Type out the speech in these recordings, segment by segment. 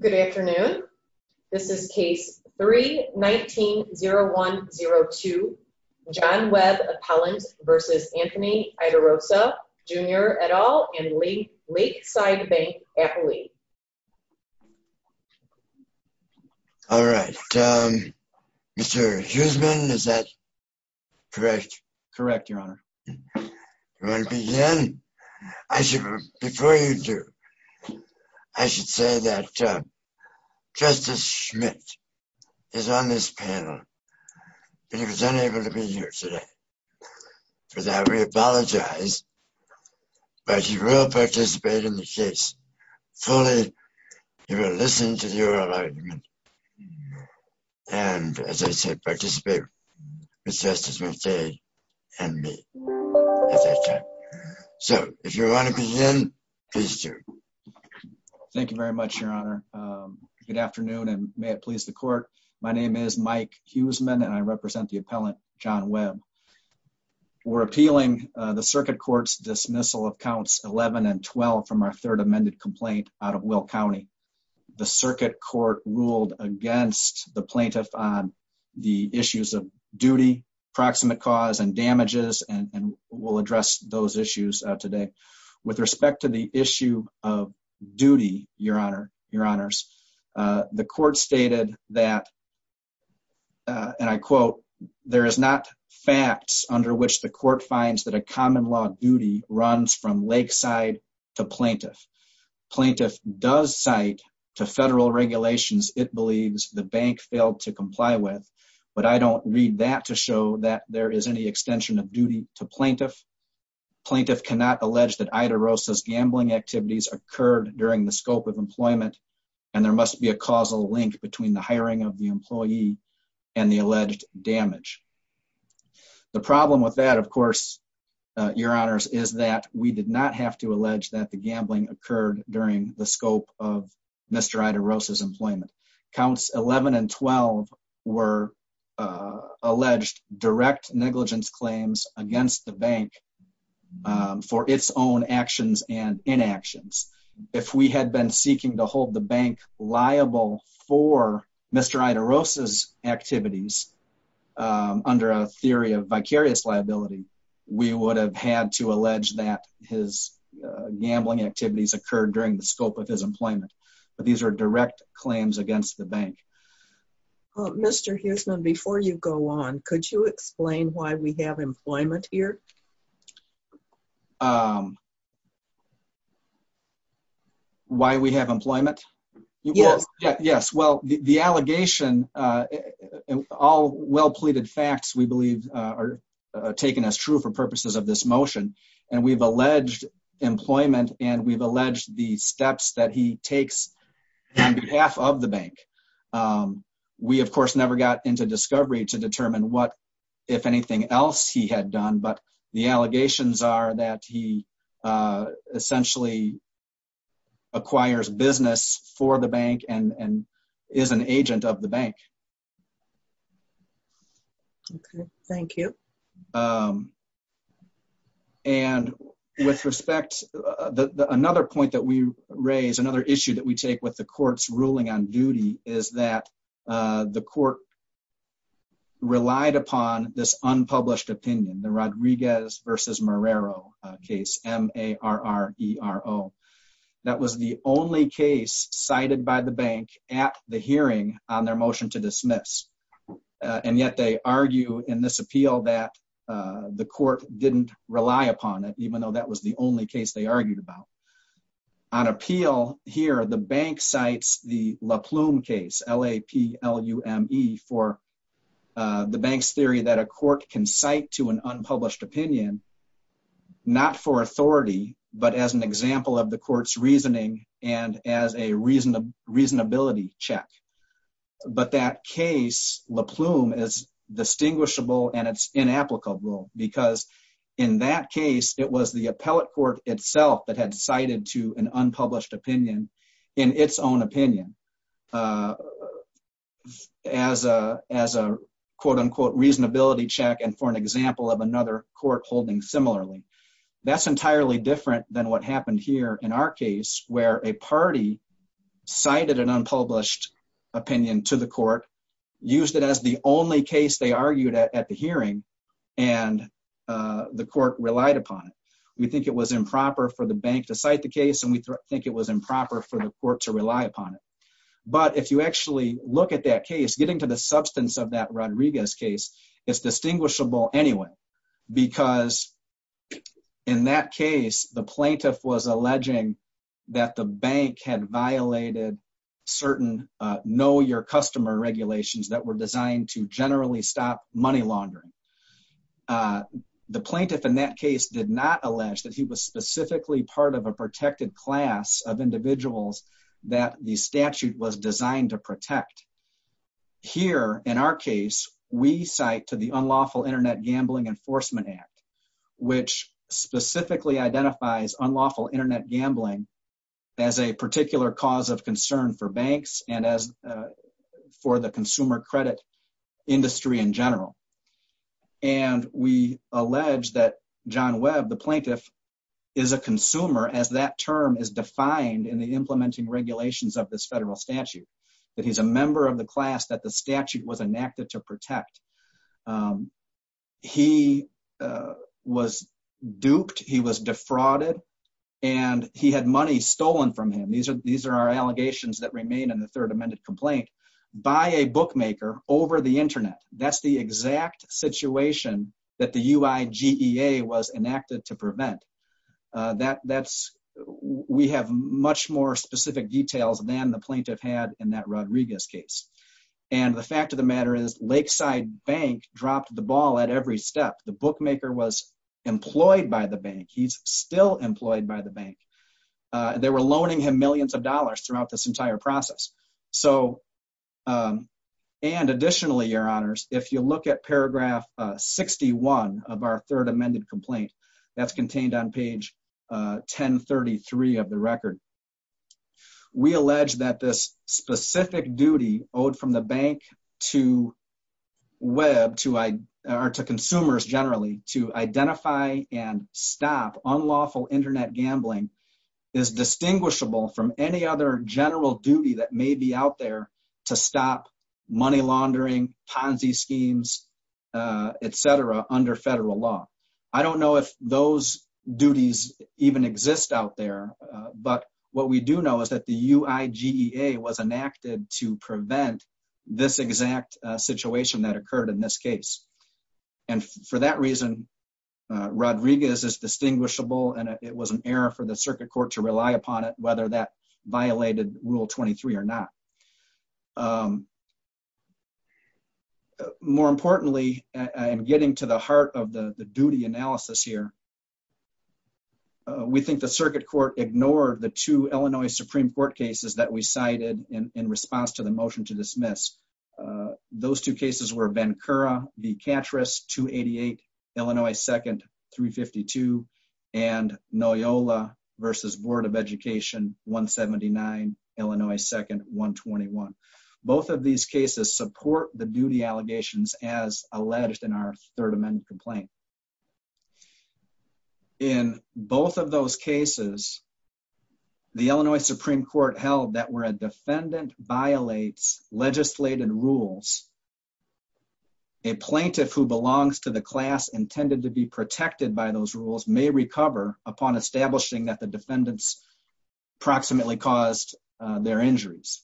Good afternoon. This is case 3-19-0102, John Webb Appellant v. Anthony Iaderosa, Jr. et. al. and Lakeside Bank, Appalachia. All right. Mr. Huseman, is that correct? Correct, Your Honor. Before you do, I should say that Justice Schmidt is on this panel, but he was unable to be here today. For that, we apologize, but he will participate in the case fully. He will listen to the oral argument and, as I said, participate with Justice Schmidt and me at that time. So, if you want to begin, please do. Thank you very much, Your Honor. Good afternoon, and may it please the Court. My name is Mike Huseman, and I represent the appellant, John Webb. We're appealing the Circuit Court's dismissal of counts 11 and 12 from our third amended complaint out of Will County. The Circuit Court ruled against the plaintiff on the issues of duty, proximate cause, and damages, and we'll address those issues today. With respect to the issue of duty, Your Honor, Your Honors, the Court stated that, and I quote, there is not facts under which the Court finds that a common law duty runs from lakeside to plaintiff. Plaintiff does cite to federal regulations it believes the bank failed to comply with, but I don't read that to show that there is any extension of duty to plaintiff. Plaintiff cannot allege that Ida Rosa's gambling activities occurred during the scope of employment, and there must be a causal link between the hiring of the employee and the alleged damage. The problem with that, of course, Your Honors, is that we did not have to allege that the gambling occurred during the scope of Mr. Ida Rosa's employment. Counts 11 and 12 were alleged direct negligence claims against the bank for its own actions and inactions. If we had been seeking to hold the bank liable for Mr. Ida Rosa's activities under a theory of vicarious liability, we would have had to allege that his gambling activities occurred during the scope of his employment. But these are direct claims against the bank. Mr. Huisman, before you go on, could you explain why we have employment here? Why we have employment? Yes. Yes. Well, the allegation, all well-pleaded facts, we believe, are taken as true for purposes of this motion. And we've alleged employment and we've alleged the steps that he takes on behalf of the bank. We, of course, never got into discovery to determine what, if anything else, he had done. But the allegations are that he essentially acquires business for the bank and is an agent of the bank. Okay. Thank you. And with respect, another point that we raise, another issue that we take with the court's ruling on duty is that the court relied upon this unpublished opinion, the Rodriguez versus Marrero case, M-A-R-R-E-R-O. That was the only case cited by the bank at the hearing on their motion to dismiss. And yet they argue in this appeal that the court didn't rely upon it, even though that was the only case they argued about. On appeal here, the bank cites the La Plume case, L-A-P-L-U-M-E, for the bank's theory that a court can cite to an unpublished opinion, not for authority, but as an example of the court's reasoning and as a reasonability check. But that case, La Plume, is distinguishable and it's inapplicable because in that case, it was the appellate court itself that had cited to an unpublished opinion in its own opinion as a quote-unquote reasonability check and for an example of another court holding similarly. That's entirely different than what happened here in our case where a party cited an unpublished opinion to the court, used it as the only case they argued at the hearing, and the court relied upon it. We think it was improper for the bank to cite the case and we think it was improper for the court to rely upon it. But if you actually look at that case, getting to the substance of that Rodriguez case, it's distinguishable anyway because in that case, the plaintiff was alleging that the bank had violated certain know-your-customer regulations that were designed to generally stop money laundering. The plaintiff in that case did not allege that he was specifically part of a protected class of individuals that the statute was designed to protect. Here in our case, we cite to the Unlawful Internet Gambling Enforcement Act, which specifically identifies unlawful internet gambling as a particular cause of concern for banks and for the consumer credit industry in general. And we allege that John Webb, the plaintiff, is a consumer as that term is defined in the implementing regulations of this federal statute. That he's a member of the class that the statute was enacted to protect. He was duped, he was defrauded, and he had money stolen from him. These are our allegations that remain in the third amended complaint by a bookmaker over the internet. That's the exact situation that the UIGEA was enacted to prevent. We have much more specific details than the plaintiff had in that Rodriguez case. And the fact of the matter is Lakeside Bank dropped the ball at every step. The bookmaker was employed by the bank. He's still employed by the bank. They were loaning him millions of dollars throughout this entire process. So, and additionally, your honors, if you look at paragraph 61 of our third amended complaint, that's contained on page 1033 of the record. We allege that this specific duty owed from the bank to consumers generally to identify and stop unlawful internet gambling is distinguishable from any other general duty that may be out there to stop money laundering, Ponzi schemes, etc. under federal law. I don't know if those duties even exist out there, but what we do know is that the UIGEA was enacted to prevent this exact situation that occurred in this case. And for that reason, Rodriguez is distinguishable, and it was an error for the circuit court to rely upon it, whether that violated Rule 23 or not. More importantly, and getting to the heart of the duty analysis here, we think the circuit court ignored the two Illinois Supreme Court cases that we cited in response to the motion to dismiss. Those two cases were Bencura v. Catrus, 288, Illinois 2nd, 352, and Noyola v. Board of Education, 179, Illinois 2nd, 121. Both of these cases support the duty allegations as alleged in our third amended complaint. In both of those cases, the Illinois Supreme Court held that where a defendant violates legislated rules, a plaintiff who belongs to the class intended to be protected by those rules may recover upon establishing that the defendants approximately caused their injuries.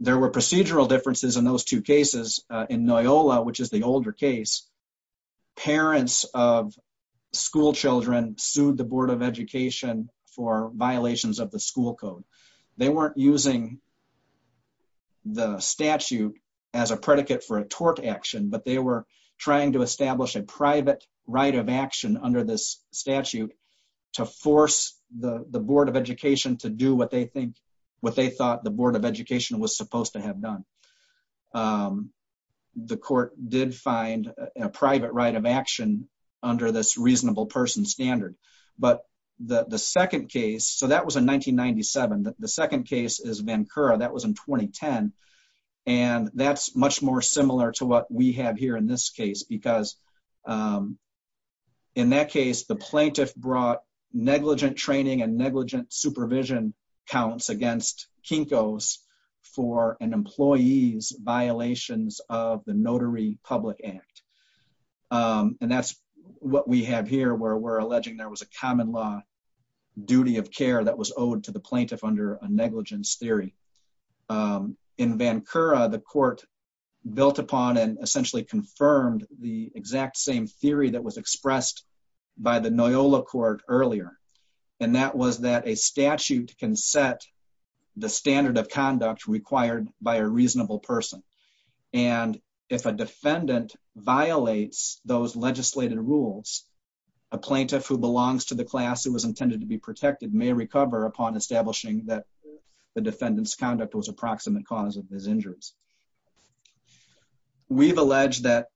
There were procedural differences in those two cases. In Noyola, which is the older case, parents of schoolchildren sued the Board of Education for violations of the school code. They weren't using the statute as a predicate for a tort action, but they were trying to establish a private right of action under this statute to force the Board of Education to do what they thought the Board of Education was supposed to have done. The court did find a private right of action under this reasonable person standard, but the second case, so that was in 1997, the second case is Bencura, that was in 2010. And that's much more similar to what we have here in this case, because in that case, the plaintiff brought negligent training and negligent supervision counts against Kinkos for an employee's violations of the Notary Public Act. And that's what we have here where we're alleging there was a common law duty of care that was owed to the plaintiff under a negligence theory. In Bencura, the court built upon and essentially confirmed the exact same theory that was expressed by the Noyola court earlier, and that was that a statute can set the standard of conduct required by a reasonable person. And if a defendant violates those legislated rules, a plaintiff who belongs to the class who was intended to be protected may recover upon establishing that the defendant's conduct was a proximate cause of his injuries. We've alleged that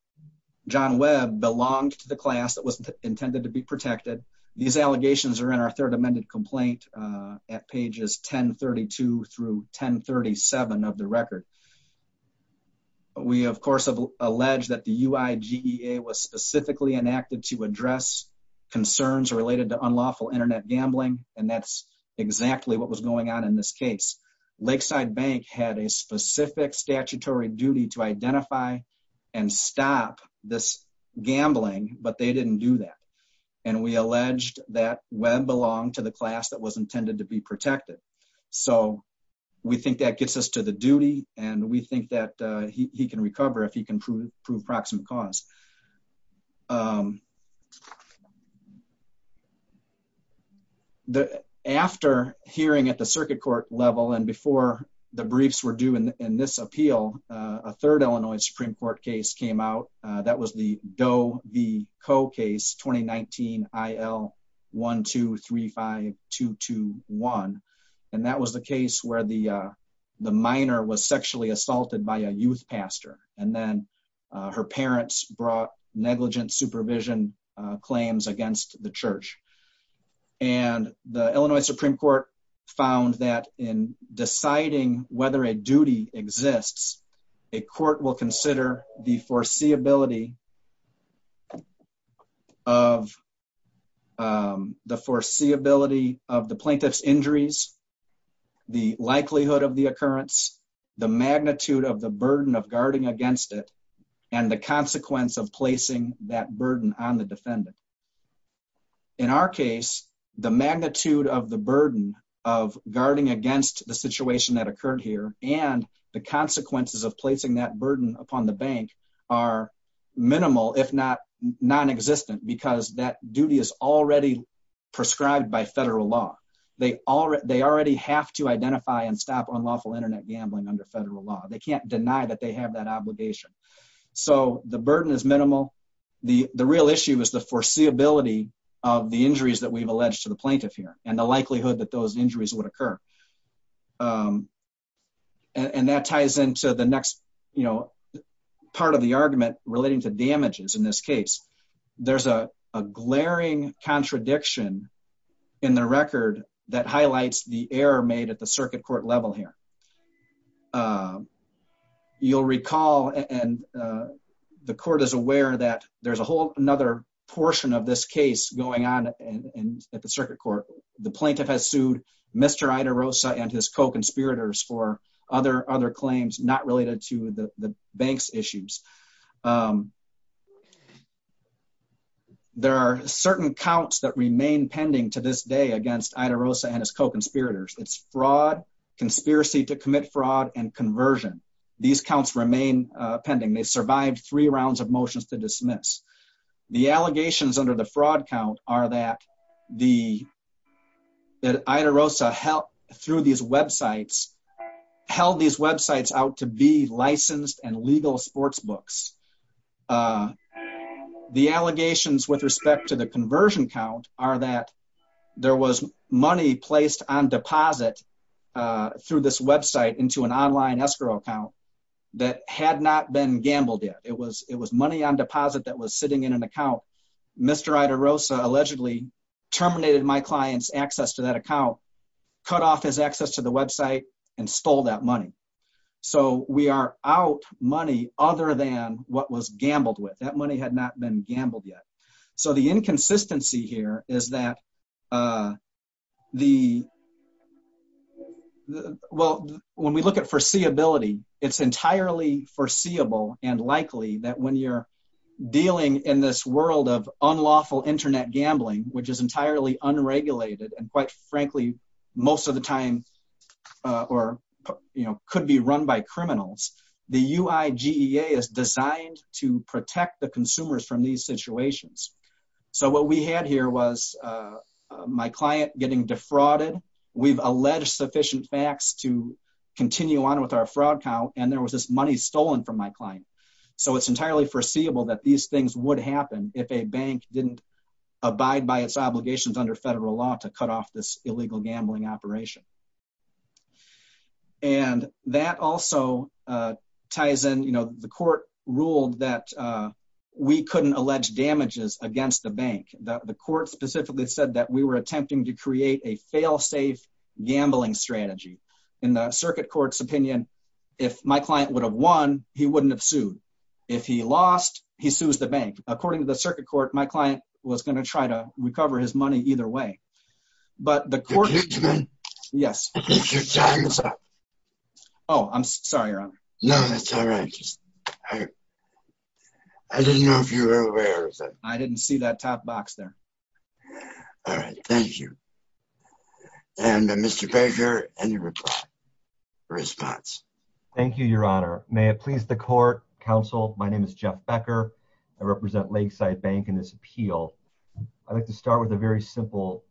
John Webb belonged to the class that was intended to be protected. These allegations are in our third amended complaint at pages 1032 through 1037 of the record. We, of course, have alleged that the UIGEA was specifically enacted to address concerns related to unlawful internet gambling, and that's exactly what was going on in this case. Lakeside Bank had a specific statutory duty to identify and stop this gambling, but they didn't do that. And we alleged that Webb belonged to the class that was intended to be protected. So we think that gets us to the duty, and we think that he can recover if he can prove proximate cause. After hearing at the circuit court level and before the briefs were due in this appeal, a third Illinois Supreme Court case came out. That was the Doe v. Coe case, 2019 IL-1235-221. And that was the case where the minor was sexually assaulted by a youth pastor, and then her parents brought negligent supervision claims against the church. And the Illinois Supreme Court found that in deciding whether a duty exists, a court will consider the foreseeability of the plaintiff's injuries, the likelihood of the occurrence, the magnitude of the burden of guarding against it, and the consequence of placing that burden on the defendant. In our case, the magnitude of the burden of guarding against the situation that occurred here and the consequences of placing that burden upon the bank are minimal, if not non-existent, because that duty is already prescribed by federal law. They already have to identify and stop unlawful internet gambling under federal law. They can't deny that they have that obligation. So the burden is minimal. The real issue is the foreseeability of the injuries that we've alleged to the plaintiff here and the likelihood that those injuries would occur. And that ties into the next part of the argument relating to damages in this case. There's a glaring contradiction in the record that highlights the error made at the circuit court level here. You'll recall, and the court is aware, that there's a whole other portion of this case going on at the circuit court. The plaintiff has sued Mr. Idarosa and his co-conspirators for other claims not related to the bank's issues. There are certain counts that remain pending to this day against Idarosa and his co-conspirators. It's fraud, conspiracy to commit fraud, and conversion. These counts remain pending. They survived three rounds of motions to dismiss. The allegations under the fraud count are that Idarosa held these websites out to be licensed and legal sportsbooks. The allegations with respect to the conversion count are that there was money placed on deposit through this website into an online escrow account that had not been gambled yet. It was money on deposit that was sitting in an account. Mr. Idarosa allegedly terminated my client's access to that account, cut off his access to the website, and stole that money. So we are out money other than what was gambled with. That money had not been gambled yet. So the inconsistency here is that when we look at foreseeability, it's entirely foreseeable and likely that when you're dealing in this world of unlawful internet gambling, which is entirely unregulated and quite frankly most of the time could be run by criminals, the UIGEA is designed to protect the consumers from these situations. So what we had here was my client getting defrauded, we've alleged sufficient facts to continue on with our fraud count, and there was this money stolen from my client. So it's entirely foreseeable that these things would happen if a bank didn't abide by its obligations under federal law to cut off this illegal gambling operation. And that also ties in, you know, the court ruled that we couldn't allege damages against the bank. The court specifically said that we were attempting to create a fail-safe gambling strategy. In the circuit court's opinion, if my client would have won, he wouldn't have sued. If he lost, he sues the bank. According to the circuit court, my client was going to try to recover his money either way. Excuse me? Yes. Your time is up. Oh, I'm sorry, Your Honor. No, that's all right. I didn't know if you were aware of that. I didn't see that top box there. All right, thank you. And Mr. Baker, any response? Thank you, Your Honor. May it please the court, counsel, my name is Jeff Becker. I represent Lakeside Bank in this appeal. I'd like to start with a very simple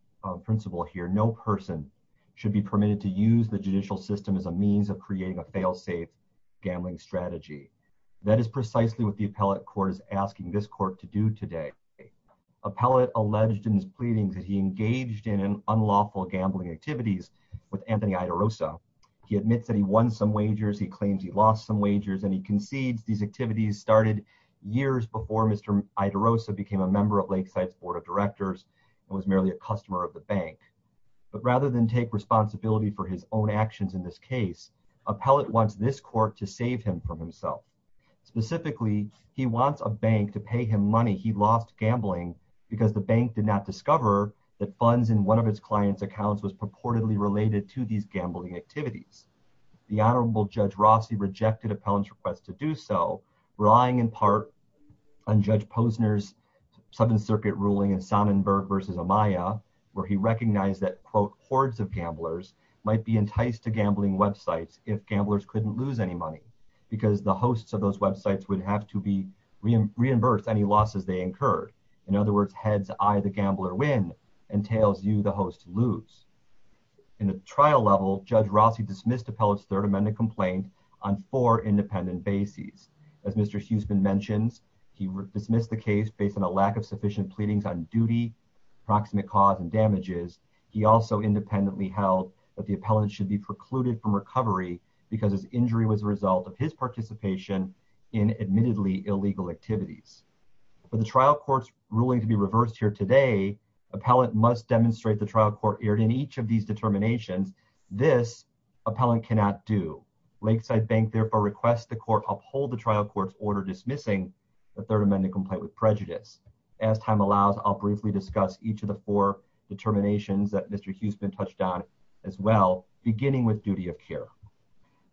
principle here. No person should be permitted to use the judicial system as a means of creating a fail-safe gambling strategy. That is precisely what the appellate court is asking this court to do today. Appellate alleged in his pleadings that he engaged in unlawful gambling activities with Anthony Idarosa. He admits that he won some wagers, he claims he lost some wagers, and he concedes these activities started years before Mr. Idarosa became a member of Lakeside's board of directors and was merely a customer of the bank. But rather than take responsibility for his own actions in this case, appellate wants this court to save him from himself. Specifically, he wants a bank to pay him money he lost gambling because the bank did not discover that funds in one of its clients' accounts was purportedly related to these gambling activities. The Honorable Judge Rossi rejected appellant's request to do so, relying in part on Judge Posner's Seventh Circuit ruling in Sonnenberg v. Amaya, where he recognized that, quote, hordes of gamblers might be enticed to gambling websites if gamblers couldn't lose any money because the hosts of those websites would have to be reimbursed any losses they incurred. In other words, heads-eye-the-gambler-win entails you, the host, lose. In the trial level, Judge Rossi dismissed appellant's Third Amendment complaint on four independent bases. As Mr. Huseman mentions, he dismissed the case based on a lack of sufficient pleadings on duty, proximate cause, and damages. He also independently held that the appellant should be precluded from recovery because his injury was a result of his participation in admittedly illegal activities. For the trial court's ruling to be reversed here today, appellant must demonstrate the trial court erred in each of these determinations. This, appellant cannot do. Lakeside Bank therefore requests the court uphold the trial court's order dismissing the Third Amendment complaint with prejudice. As time allows, I'll briefly discuss each of the four determinations that Mr. Huseman touched on as well, beginning with duty of care.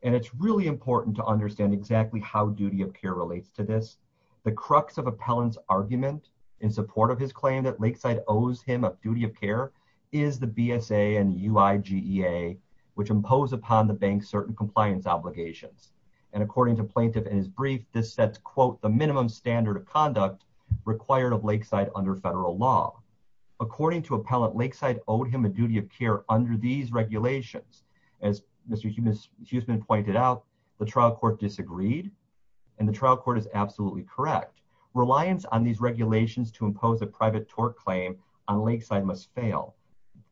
And it's really important to understand exactly how duty of care relates to this. The crux of appellant's argument in support of his claim that Lakeside owes him a duty of care is the BSA and UIGEA, which impose upon the bank certain compliance obligations. And according to plaintiff in his brief, this sets, quote, the minimum standard of conduct required of Lakeside under federal law. According to appellant, Lakeside owed him a duty of care under these regulations. As Mr. Huseman pointed out, the trial court disagreed, and the trial court is absolutely correct. Reliance on these regulations to impose a private tort claim on Lakeside must fail.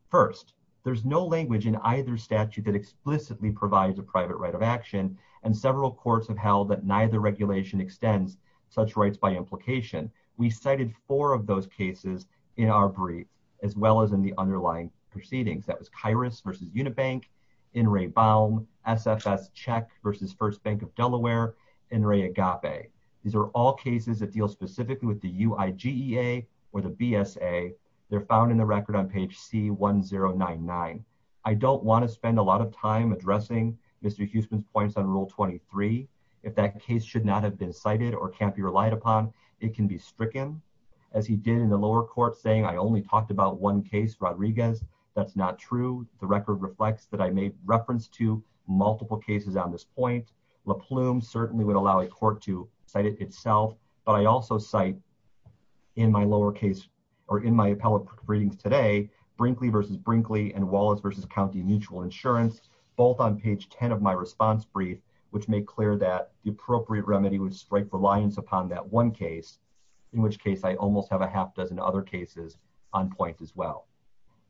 First, there's no language in either statute that explicitly provides a private right of action, and several courts have held that neither regulation extends such rights by implication. We cited four of those cases in our brief, as well as in the underlying proceedings. That was Kairos versus Unibank, In re Baum, SFS Czech versus First Bank of Delaware, In re Agape. These are all cases that deal specifically with the UIGEA or the BSA. They're found in the record on page C1099. I don't want to spend a lot of time addressing Mr. Huseman's points on Rule 23. If that case should not have been cited or can't be relied upon, it can be stricken. As he did in the lower court saying, I only talked about one case, Rodriguez. That's not true. The record reflects that I made reference to multiple cases on this point. La Plume certainly would allow a court to cite it itself, but I also cite in my lower case, or in my appellate briefings today, Brinkley versus Brinkley and Wallace versus County Mutual Insurance, both on page 10 of my response brief, which made clear that the appropriate remedy would strike reliance upon that one case. In which case I almost have a half dozen other cases on point as well.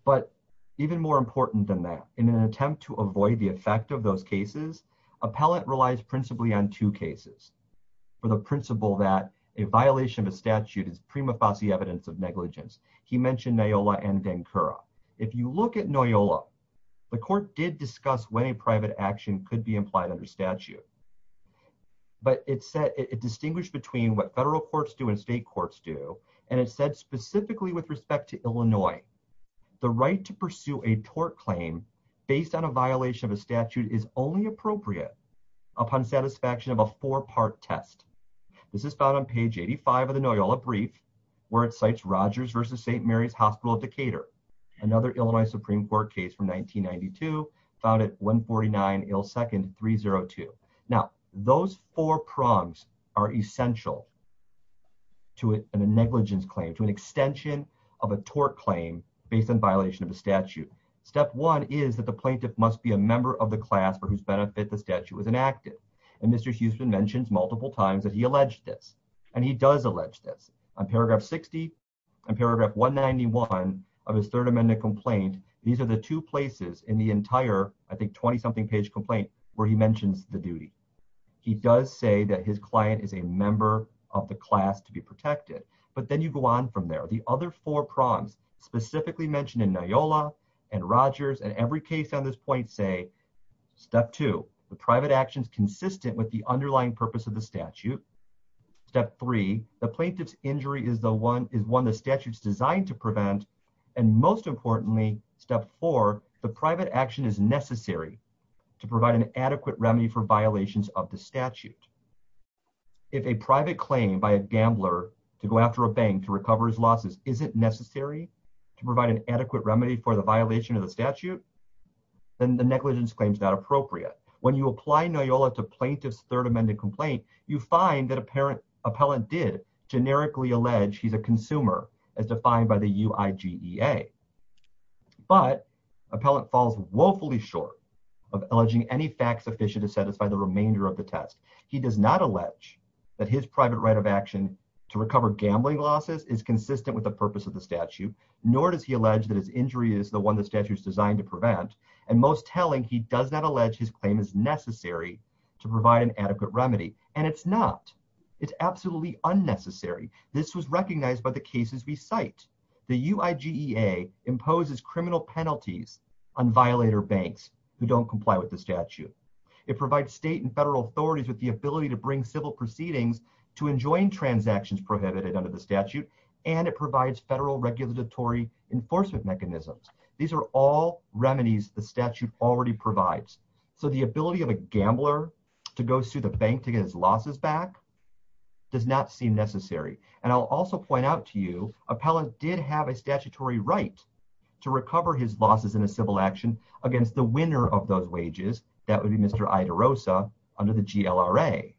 But even more important than that, in an attempt to avoid the effect of those cases, appellate relies principally on two cases. The first case I'm going to talk about is a case called Noyola v. Dancura. Noyola v. Dancura is a case in which a private action could be implied under statute. The statute is only appropriate upon satisfaction of a four-part test. This is found on page 85 of the Noyola brief, where it cites Rogers v. St. Mary's Hospital of Decatur, another Illinois Supreme Court case from 1992, found at 149 Ailes 2nd 302. Now, those four prongs are essential to a negligence claim, to an extension of a tort claim based on violation of the statute. Step one is that the plaintiff must be a member of the class for whose benefit the statute was enacted. And Mr. Huston mentions multiple times that he alleged this. And he does allege this. On paragraph 60 and paragraph 191 of his Third Amendment complaint, these are the two places in the entire, I think, 20-something page complaint where he mentions the duty. He does say that his client is a member of the class to be protected. But then you go on from there. The other four prongs specifically mentioned in Noyola and Rogers and every case on this point say, step two, the private action is consistent with the underlying purpose of the statute. Step three, the plaintiff's injury is one the statute is designed to prevent. And most importantly, step four, the private action is necessary to provide an adequate remedy for violations of the statute. If a private claim by a gambler to go after a bank to recover his losses isn't necessary to provide an adequate remedy for the violation of the statute, then the negligence claim is not appropriate. When you apply Noyola to plaintiff's Third Amendment complaint, you find that appellant did generically allege he's a consumer, as defined by the UIGEA. But appellant falls woefully short of alleging any facts sufficient to satisfy the remainder of the test. He does not allege that his private right of action to recover gambling losses is consistent with the purpose of the statute, nor does he allege that his injury is the one the statute is designed to prevent. And most telling, he does not allege his claim is necessary to provide an adequate remedy. And it's not. It's absolutely unnecessary. This was recognized by the cases we cite. The UIGEA imposes criminal penalties on violator banks who don't comply with the statute. It provides state and federal authorities with the ability to bring civil proceedings to enjoin transactions prohibited under the statute, and it provides federal regulatory enforcement mechanisms. These are all remedies the statute already provides. So the ability of a gambler to go sue the bank to get his losses back does not seem necessary. And I'll also point out to you, appellant did have a statutory right to recover his losses in a civil action against the winner of those wages. That would be Mr. Idarosa under the GLRA.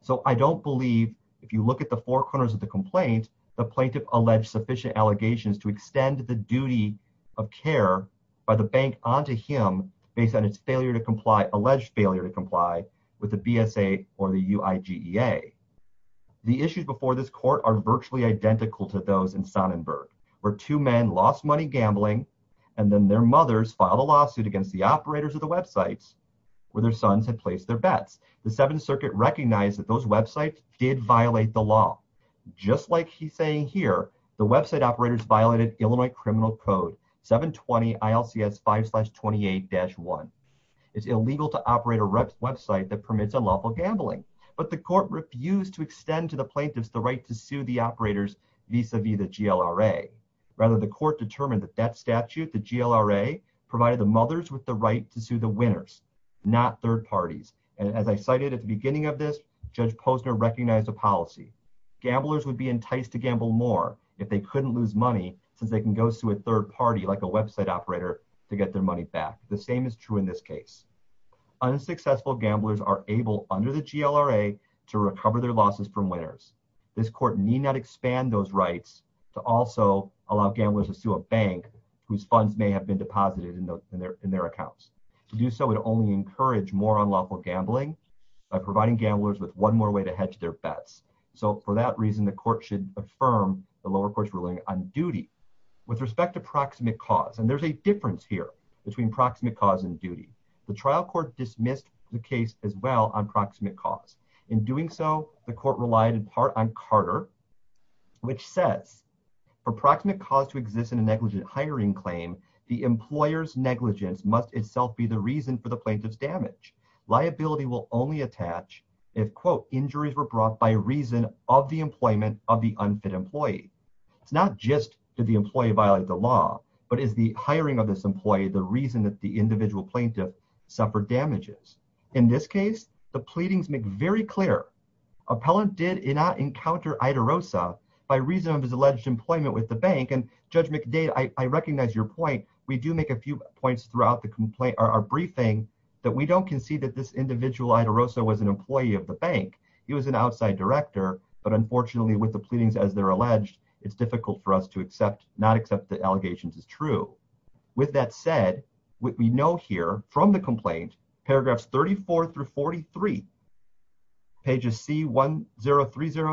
So I don't believe, if you look at the four corners of the complaint, the plaintiff alleged sufficient allegations to extend the duty of care by the bank onto him based on its alleged failure to comply with the BSA or the UIGEA. The issues before this court are virtually identical to those in Sonnenberg, where two men lost money gambling and then their mothers filed a lawsuit against the operators of the websites where their sons had placed their bets. The Seventh Circuit recognized that those websites did violate the law. Just like he's saying here, the website operators violated Illinois Criminal Code 720-ILCS-5-28-1. It's illegal to operate a website that permits unlawful gambling, but the court refused to extend to the plaintiffs the right to sue the operators vis-a-vis the GLRA. Rather, the court determined that that statute, the GLRA, provided the mothers with the right to sue the winners, not third parties. And as I cited at the beginning of this, Judge Posner recognized a policy. Gamblers would be enticed to gamble more if they couldn't lose money since they can go sue a third party, like a website operator, to get their money back. The same is true in this case. Unsuccessful gamblers are able, under the GLRA, to recover their losses from winners. This court need not expand those rights to also allow gamblers to sue a bank whose funds may have been deposited in their accounts. To do so would only encourage more unlawful gambling by providing gamblers with one more way to hedge their bets. So for that reason, the court should affirm the lower court's ruling on duty. With respect to proximate cause, and there's a difference here between proximate cause and duty, the trial court dismissed the case as well on proximate cause. In doing so, the court relied in part on Carter, which says, for proximate cause to exist in a negligent hiring claim, the employer's negligence must itself be the reason for the plaintiff's damage. Liability will only attach if, quote, injuries were brought by reason of the employment of the unfit employee. It's not just, did the employee violate the law, but is the hiring of this employee the reason that the individual plaintiff suffered damages? In this case, the pleadings make very clear. Appellant did not encounter Idarosa by reason of his alleged employment with the bank. And Judge McDade, I recognize your point. We do make a few points throughout our briefing that we don't concede that this individual, Idarosa, was an employee of the bank. He was an outside director. But unfortunately, with the pleadings as they're alleged, it's difficult for us to not accept the allegations as true. With that said, what we know here from the complaint, paragraphs 34 through 43, pages C1030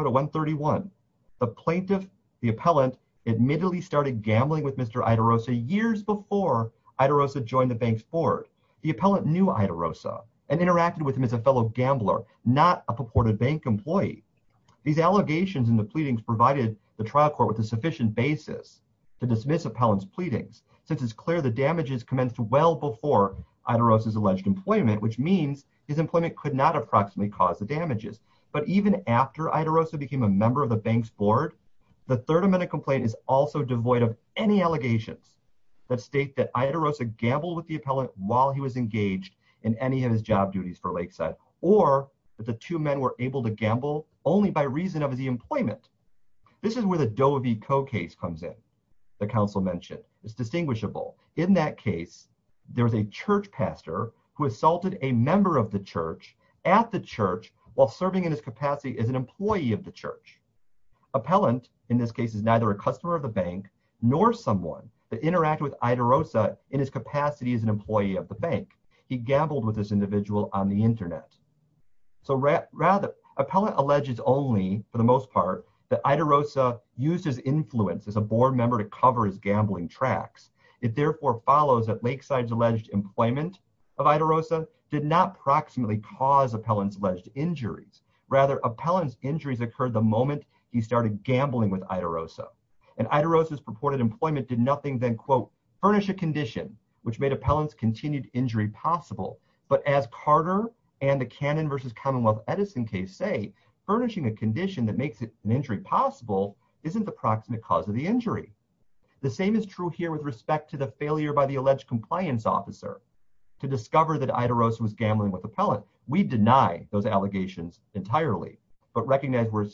to 131, the plaintiff, the appellant, admittedly started gambling with Mr. Idarosa years before Idarosa joined the bank's board. The appellant knew Idarosa and interacted with him as a fellow gambler, not a purported bank employee. These allegations in the pleadings provided the trial court with a sufficient basis to dismiss appellant's pleadings, since it's clear the damages commenced well before Idarosa's alleged employment, which means his employment could not approximately cause the damages. But even after Idarosa became a member of the bank's board, the third amendment complaint is also devoid of any allegations that state that Idarosa gambled with the appellant while he was engaged in any of his job duties for Lakeside. This is where the Doe v. Coe case comes in, the counsel mentioned. It's distinguishable. In that case, there was a church pastor who assaulted a member of the church at the church while serving in his capacity as an employee of the church. Appellant, in this case, is neither a customer of the bank nor someone that interacted with Idarosa in his capacity as an employee of the bank. He gambled with this individual on the internet. Appellant alleges only, for the most part, that Idarosa used his influence as a board member to cover his gambling tracks. It therefore follows that Lakeside's alleged employment of Idarosa did not approximately cause appellant's alleged injuries. Rather, appellant's injuries occurred the moment he started gambling with Idarosa. And Idarosa's purported employment did nothing than, quote, furnish a condition, which made appellant's continued injury possible. But as Carter and the Cannon v. Commonwealth Edison case say, furnishing a condition that makes an injury possible isn't the proximate cause of the injury. The same is true here with respect to the failure by the alleged compliance officer to discover that Idarosa was gambling with appellant. We deny those allegations entirely, but recognize we're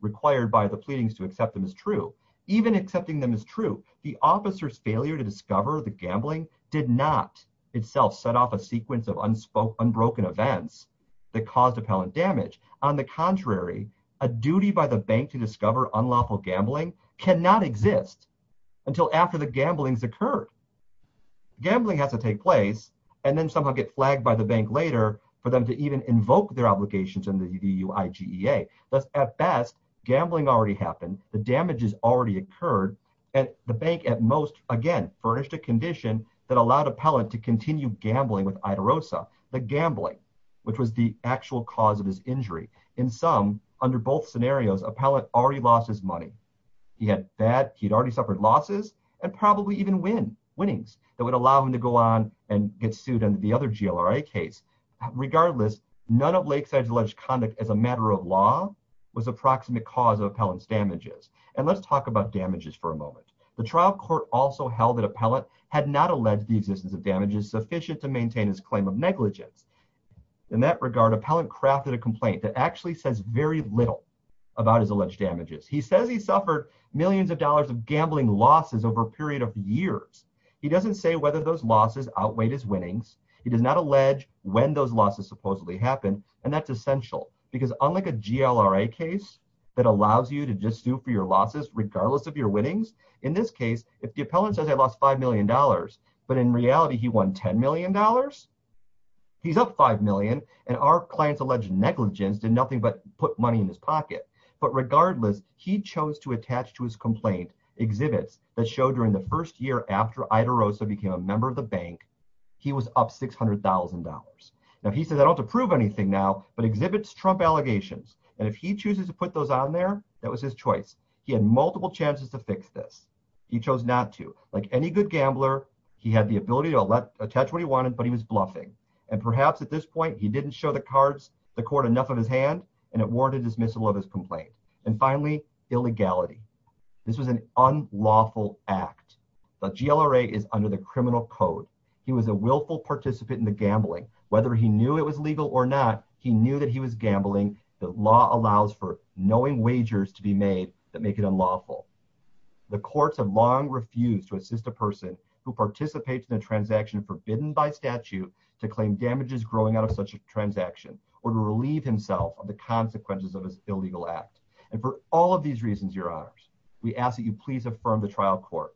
required by the pleadings to accept them as true. Even accepting them as true, the officer's failure to discover the gambling did not itself set off a sequence of unbroken events that caused appellant damage. On the contrary, a duty by the bank to discover unlawful gambling cannot exist until after the gambling's occurred. Gambling has to take place and then somehow get flagged by the bank later for them to even invoke their obligations in the EUIGEA. Thus, at best, gambling already happened, the damages already occurred, and the bank at most, again, furnished a condition that allowed appellant to continue gambling with Idarosa. The gambling, which was the actual cause of his injury. In some, under both scenarios, appellant already lost his money. He had already suffered losses and probably even winnings that would allow him to go on and get sued under the other GLRA case. Regardless, none of Lakeside's alleged conduct as a matter of law was the proximate cause of appellant's damages. And let's talk about damages for a moment. The trial court also held that appellant had not alleged the existence of damages sufficient to maintain his claim of negligence. In that regard, appellant crafted a complaint that actually says very little about his alleged damages. He says he suffered millions of dollars of gambling losses over a period of years. He doesn't say whether those losses outweighed his winnings. He does not allege when those losses supposedly happened, and that's essential. Because unlike a GLRA case that allows you to just sue for your losses regardless of your winnings, in this case, if the appellant says I lost $5 million, but in reality he won $10 million? He's up $5 million, and our client's alleged negligence did nothing but put money in his pocket. But regardless, he chose to attach to his complaint exhibits that show during the first year after Idarosa became a member of the bank, he was up $600,000. Now he says I don't have to prove anything now, but exhibits Trump allegations. And if he chooses to put those on there, that was his choice. He had multiple chances to fix this. He chose not to. Like any good gambler, he had the ability to attach what he wanted, but he was bluffing. And perhaps at this point, he didn't show the court enough of his hand, and it warranted dismissal of his complaint. And finally, illegality. This was an unlawful act. The GLRA is under the criminal code. He was a willful participant in the gambling. Whether he knew it was legal or not, he knew that he was gambling. The law allows for knowing wagers to be made that make it unlawful. The courts have long refused to assist a person who participates in a transaction forbidden by statute to claim damages growing out of such a transaction or to relieve himself of the consequences of his illegal act. And for all of these reasons, your honors, we ask that you please affirm the trial court,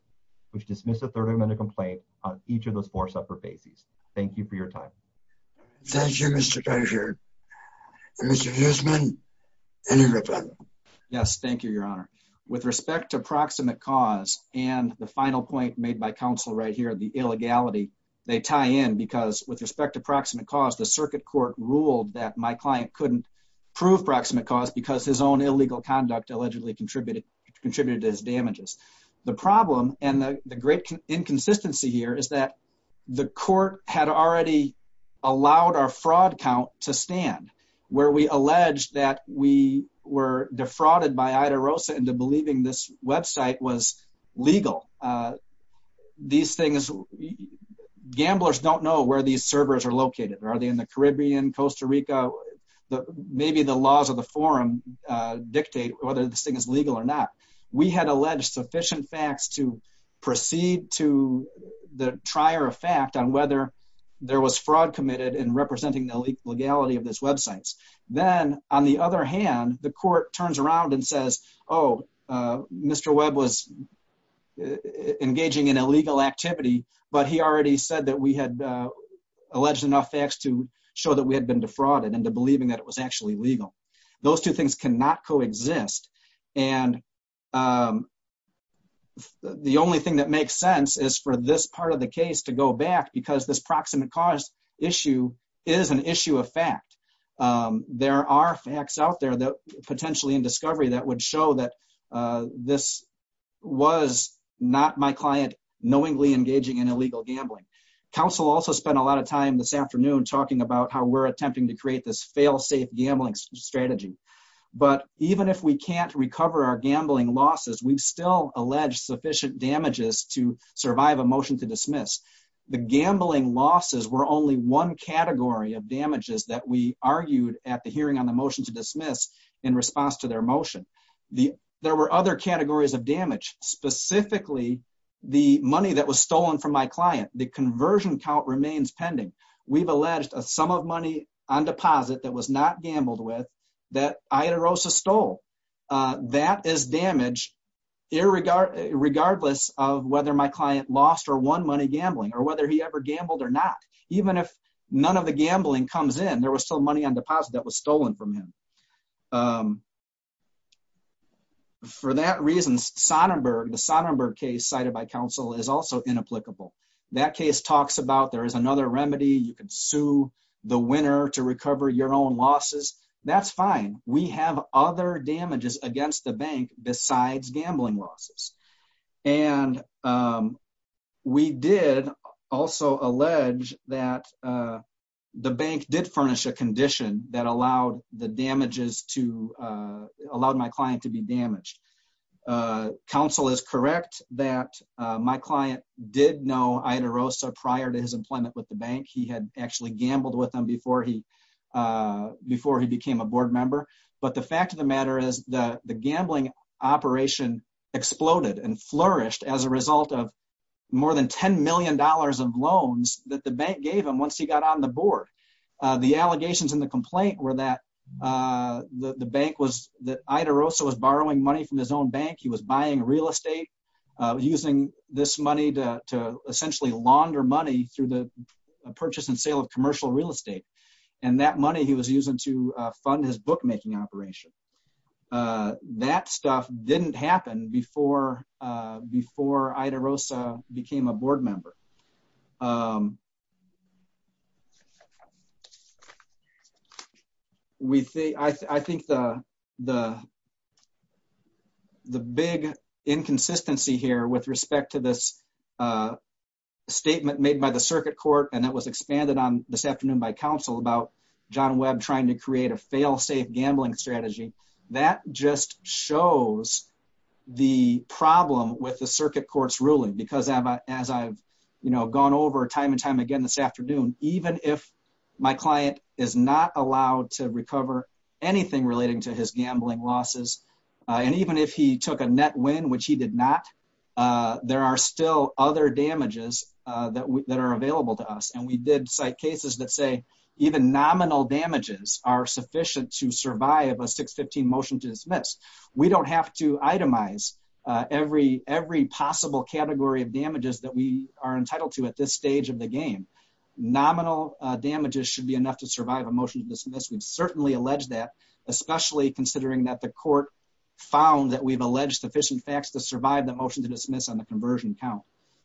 which dismissed a third amendment complaint on each of those four separate bases. Thank you for your time. Thank you, Mr. Treasurer. Mr. Guzman, any rebuttal? Yes, thank you, your honor. With respect to proximate cause and the final point made by counsel right here, the illegality, they tie in because with respect to proximate cause, the circuit court ruled that my client couldn't prove proximate cause because his own illegal conduct allegedly contributed to his damages. The problem and the great inconsistency here is that the court had already allowed our fraud count to stand, where we allege that we were defrauded by Ida Rosa into believing this website was legal. Gamblers don't know where these servers are located. Are they in the Caribbean, Costa Rica? Maybe the laws of the forum dictate whether this thing is legal or not. We had alleged sufficient facts to proceed to the trier of fact on whether there was fraud committed in representing the legality of these websites. Then, on the other hand, the court turns around and says, oh, Mr. Webb was engaging in illegal activity, but he already said that we had alleged enough facts to show that we had been defrauded into believing that it was actually legal. Those two things cannot coexist. And the only thing that makes sense is for this part of the case to go back because this proximate cause issue is an issue of fact. There are facts out there that potentially in discovery that would show that this was not my client knowingly engaging in illegal gambling. Counsel also spent a lot of time this afternoon talking about how we're attempting to create this fail-safe gambling strategy. But even if we can't recover our gambling losses, we've still alleged sufficient damages to survive a motion to dismiss. The gambling losses were only one category of damages that we argued at the hearing on the motion to dismiss in response to their motion. There were other categories of damage, specifically the money that was stolen from my client. The conversion count remains pending. We've alleged a sum of money on deposit that was not gambled with that Ida Rosa stole. That is damage regardless of whether my client lost or won money gambling or whether he ever gambled or not. Even if none of the gambling comes in, there was still money on deposit that was stolen from him. For that reason, Sonnenberg, the Sonnenberg case cited by counsel is also inapplicable. That case talks about there is another remedy. You can sue the winner to recover your own losses. That's fine. We have other damages against the bank besides gambling losses. We did also allege that the bank did furnish a condition that allowed my client to be damaged. Counsel is correct that my client did know Ida Rosa prior to his employment with the bank. He had actually gambled with them before he became a board member. The fact of the matter is the gambling operation exploded and flourished as a result of more than $10 million of loans that the bank gave him once he got on the board. The allegations in the complaint were that Ida Rosa was borrowing money from his own bank. He was buying real estate, using this money to essentially launder money through the purchase and sale of commercial real estate. And that money he was using to fund his bookmaking operation. That stuff didn't happen before Ida Rosa became a board member. I think the big inconsistency here with respect to this statement made by the circuit court and that was expanded on this afternoon by counsel about John Webb trying to create a fail-safe gambling strategy. That just shows the problem with the circuit court's ruling. Because as I've gone over time and time again this afternoon, even if my client is not allowed to recover anything relating to his gambling losses, and even if he took a net win, which he did not, there are still other damages that are available to us. And we did cite cases that say even nominal damages are sufficient to survive a 615 motion to dismiss. We don't have to itemize every possible category of damages that we are entitled to at this stage of the game. Nominal damages should be enough to survive a motion to dismiss. We've certainly alleged that, especially considering that the court found that we've alleged sufficient facts to survive the motion to dismiss on the conversion count.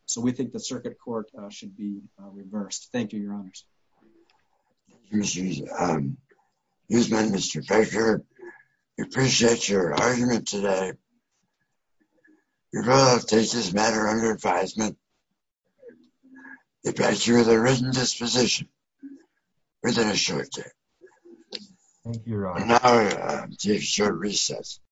So we think the circuit court should be reversed. Thank you, Your Honors. Excuse me, Mr. Baker. We appreciate your argument today. Your vote takes this matter under advisement. We pass you with a written disposition within a short time. Thank you, Your Honor. And now we take a short recess.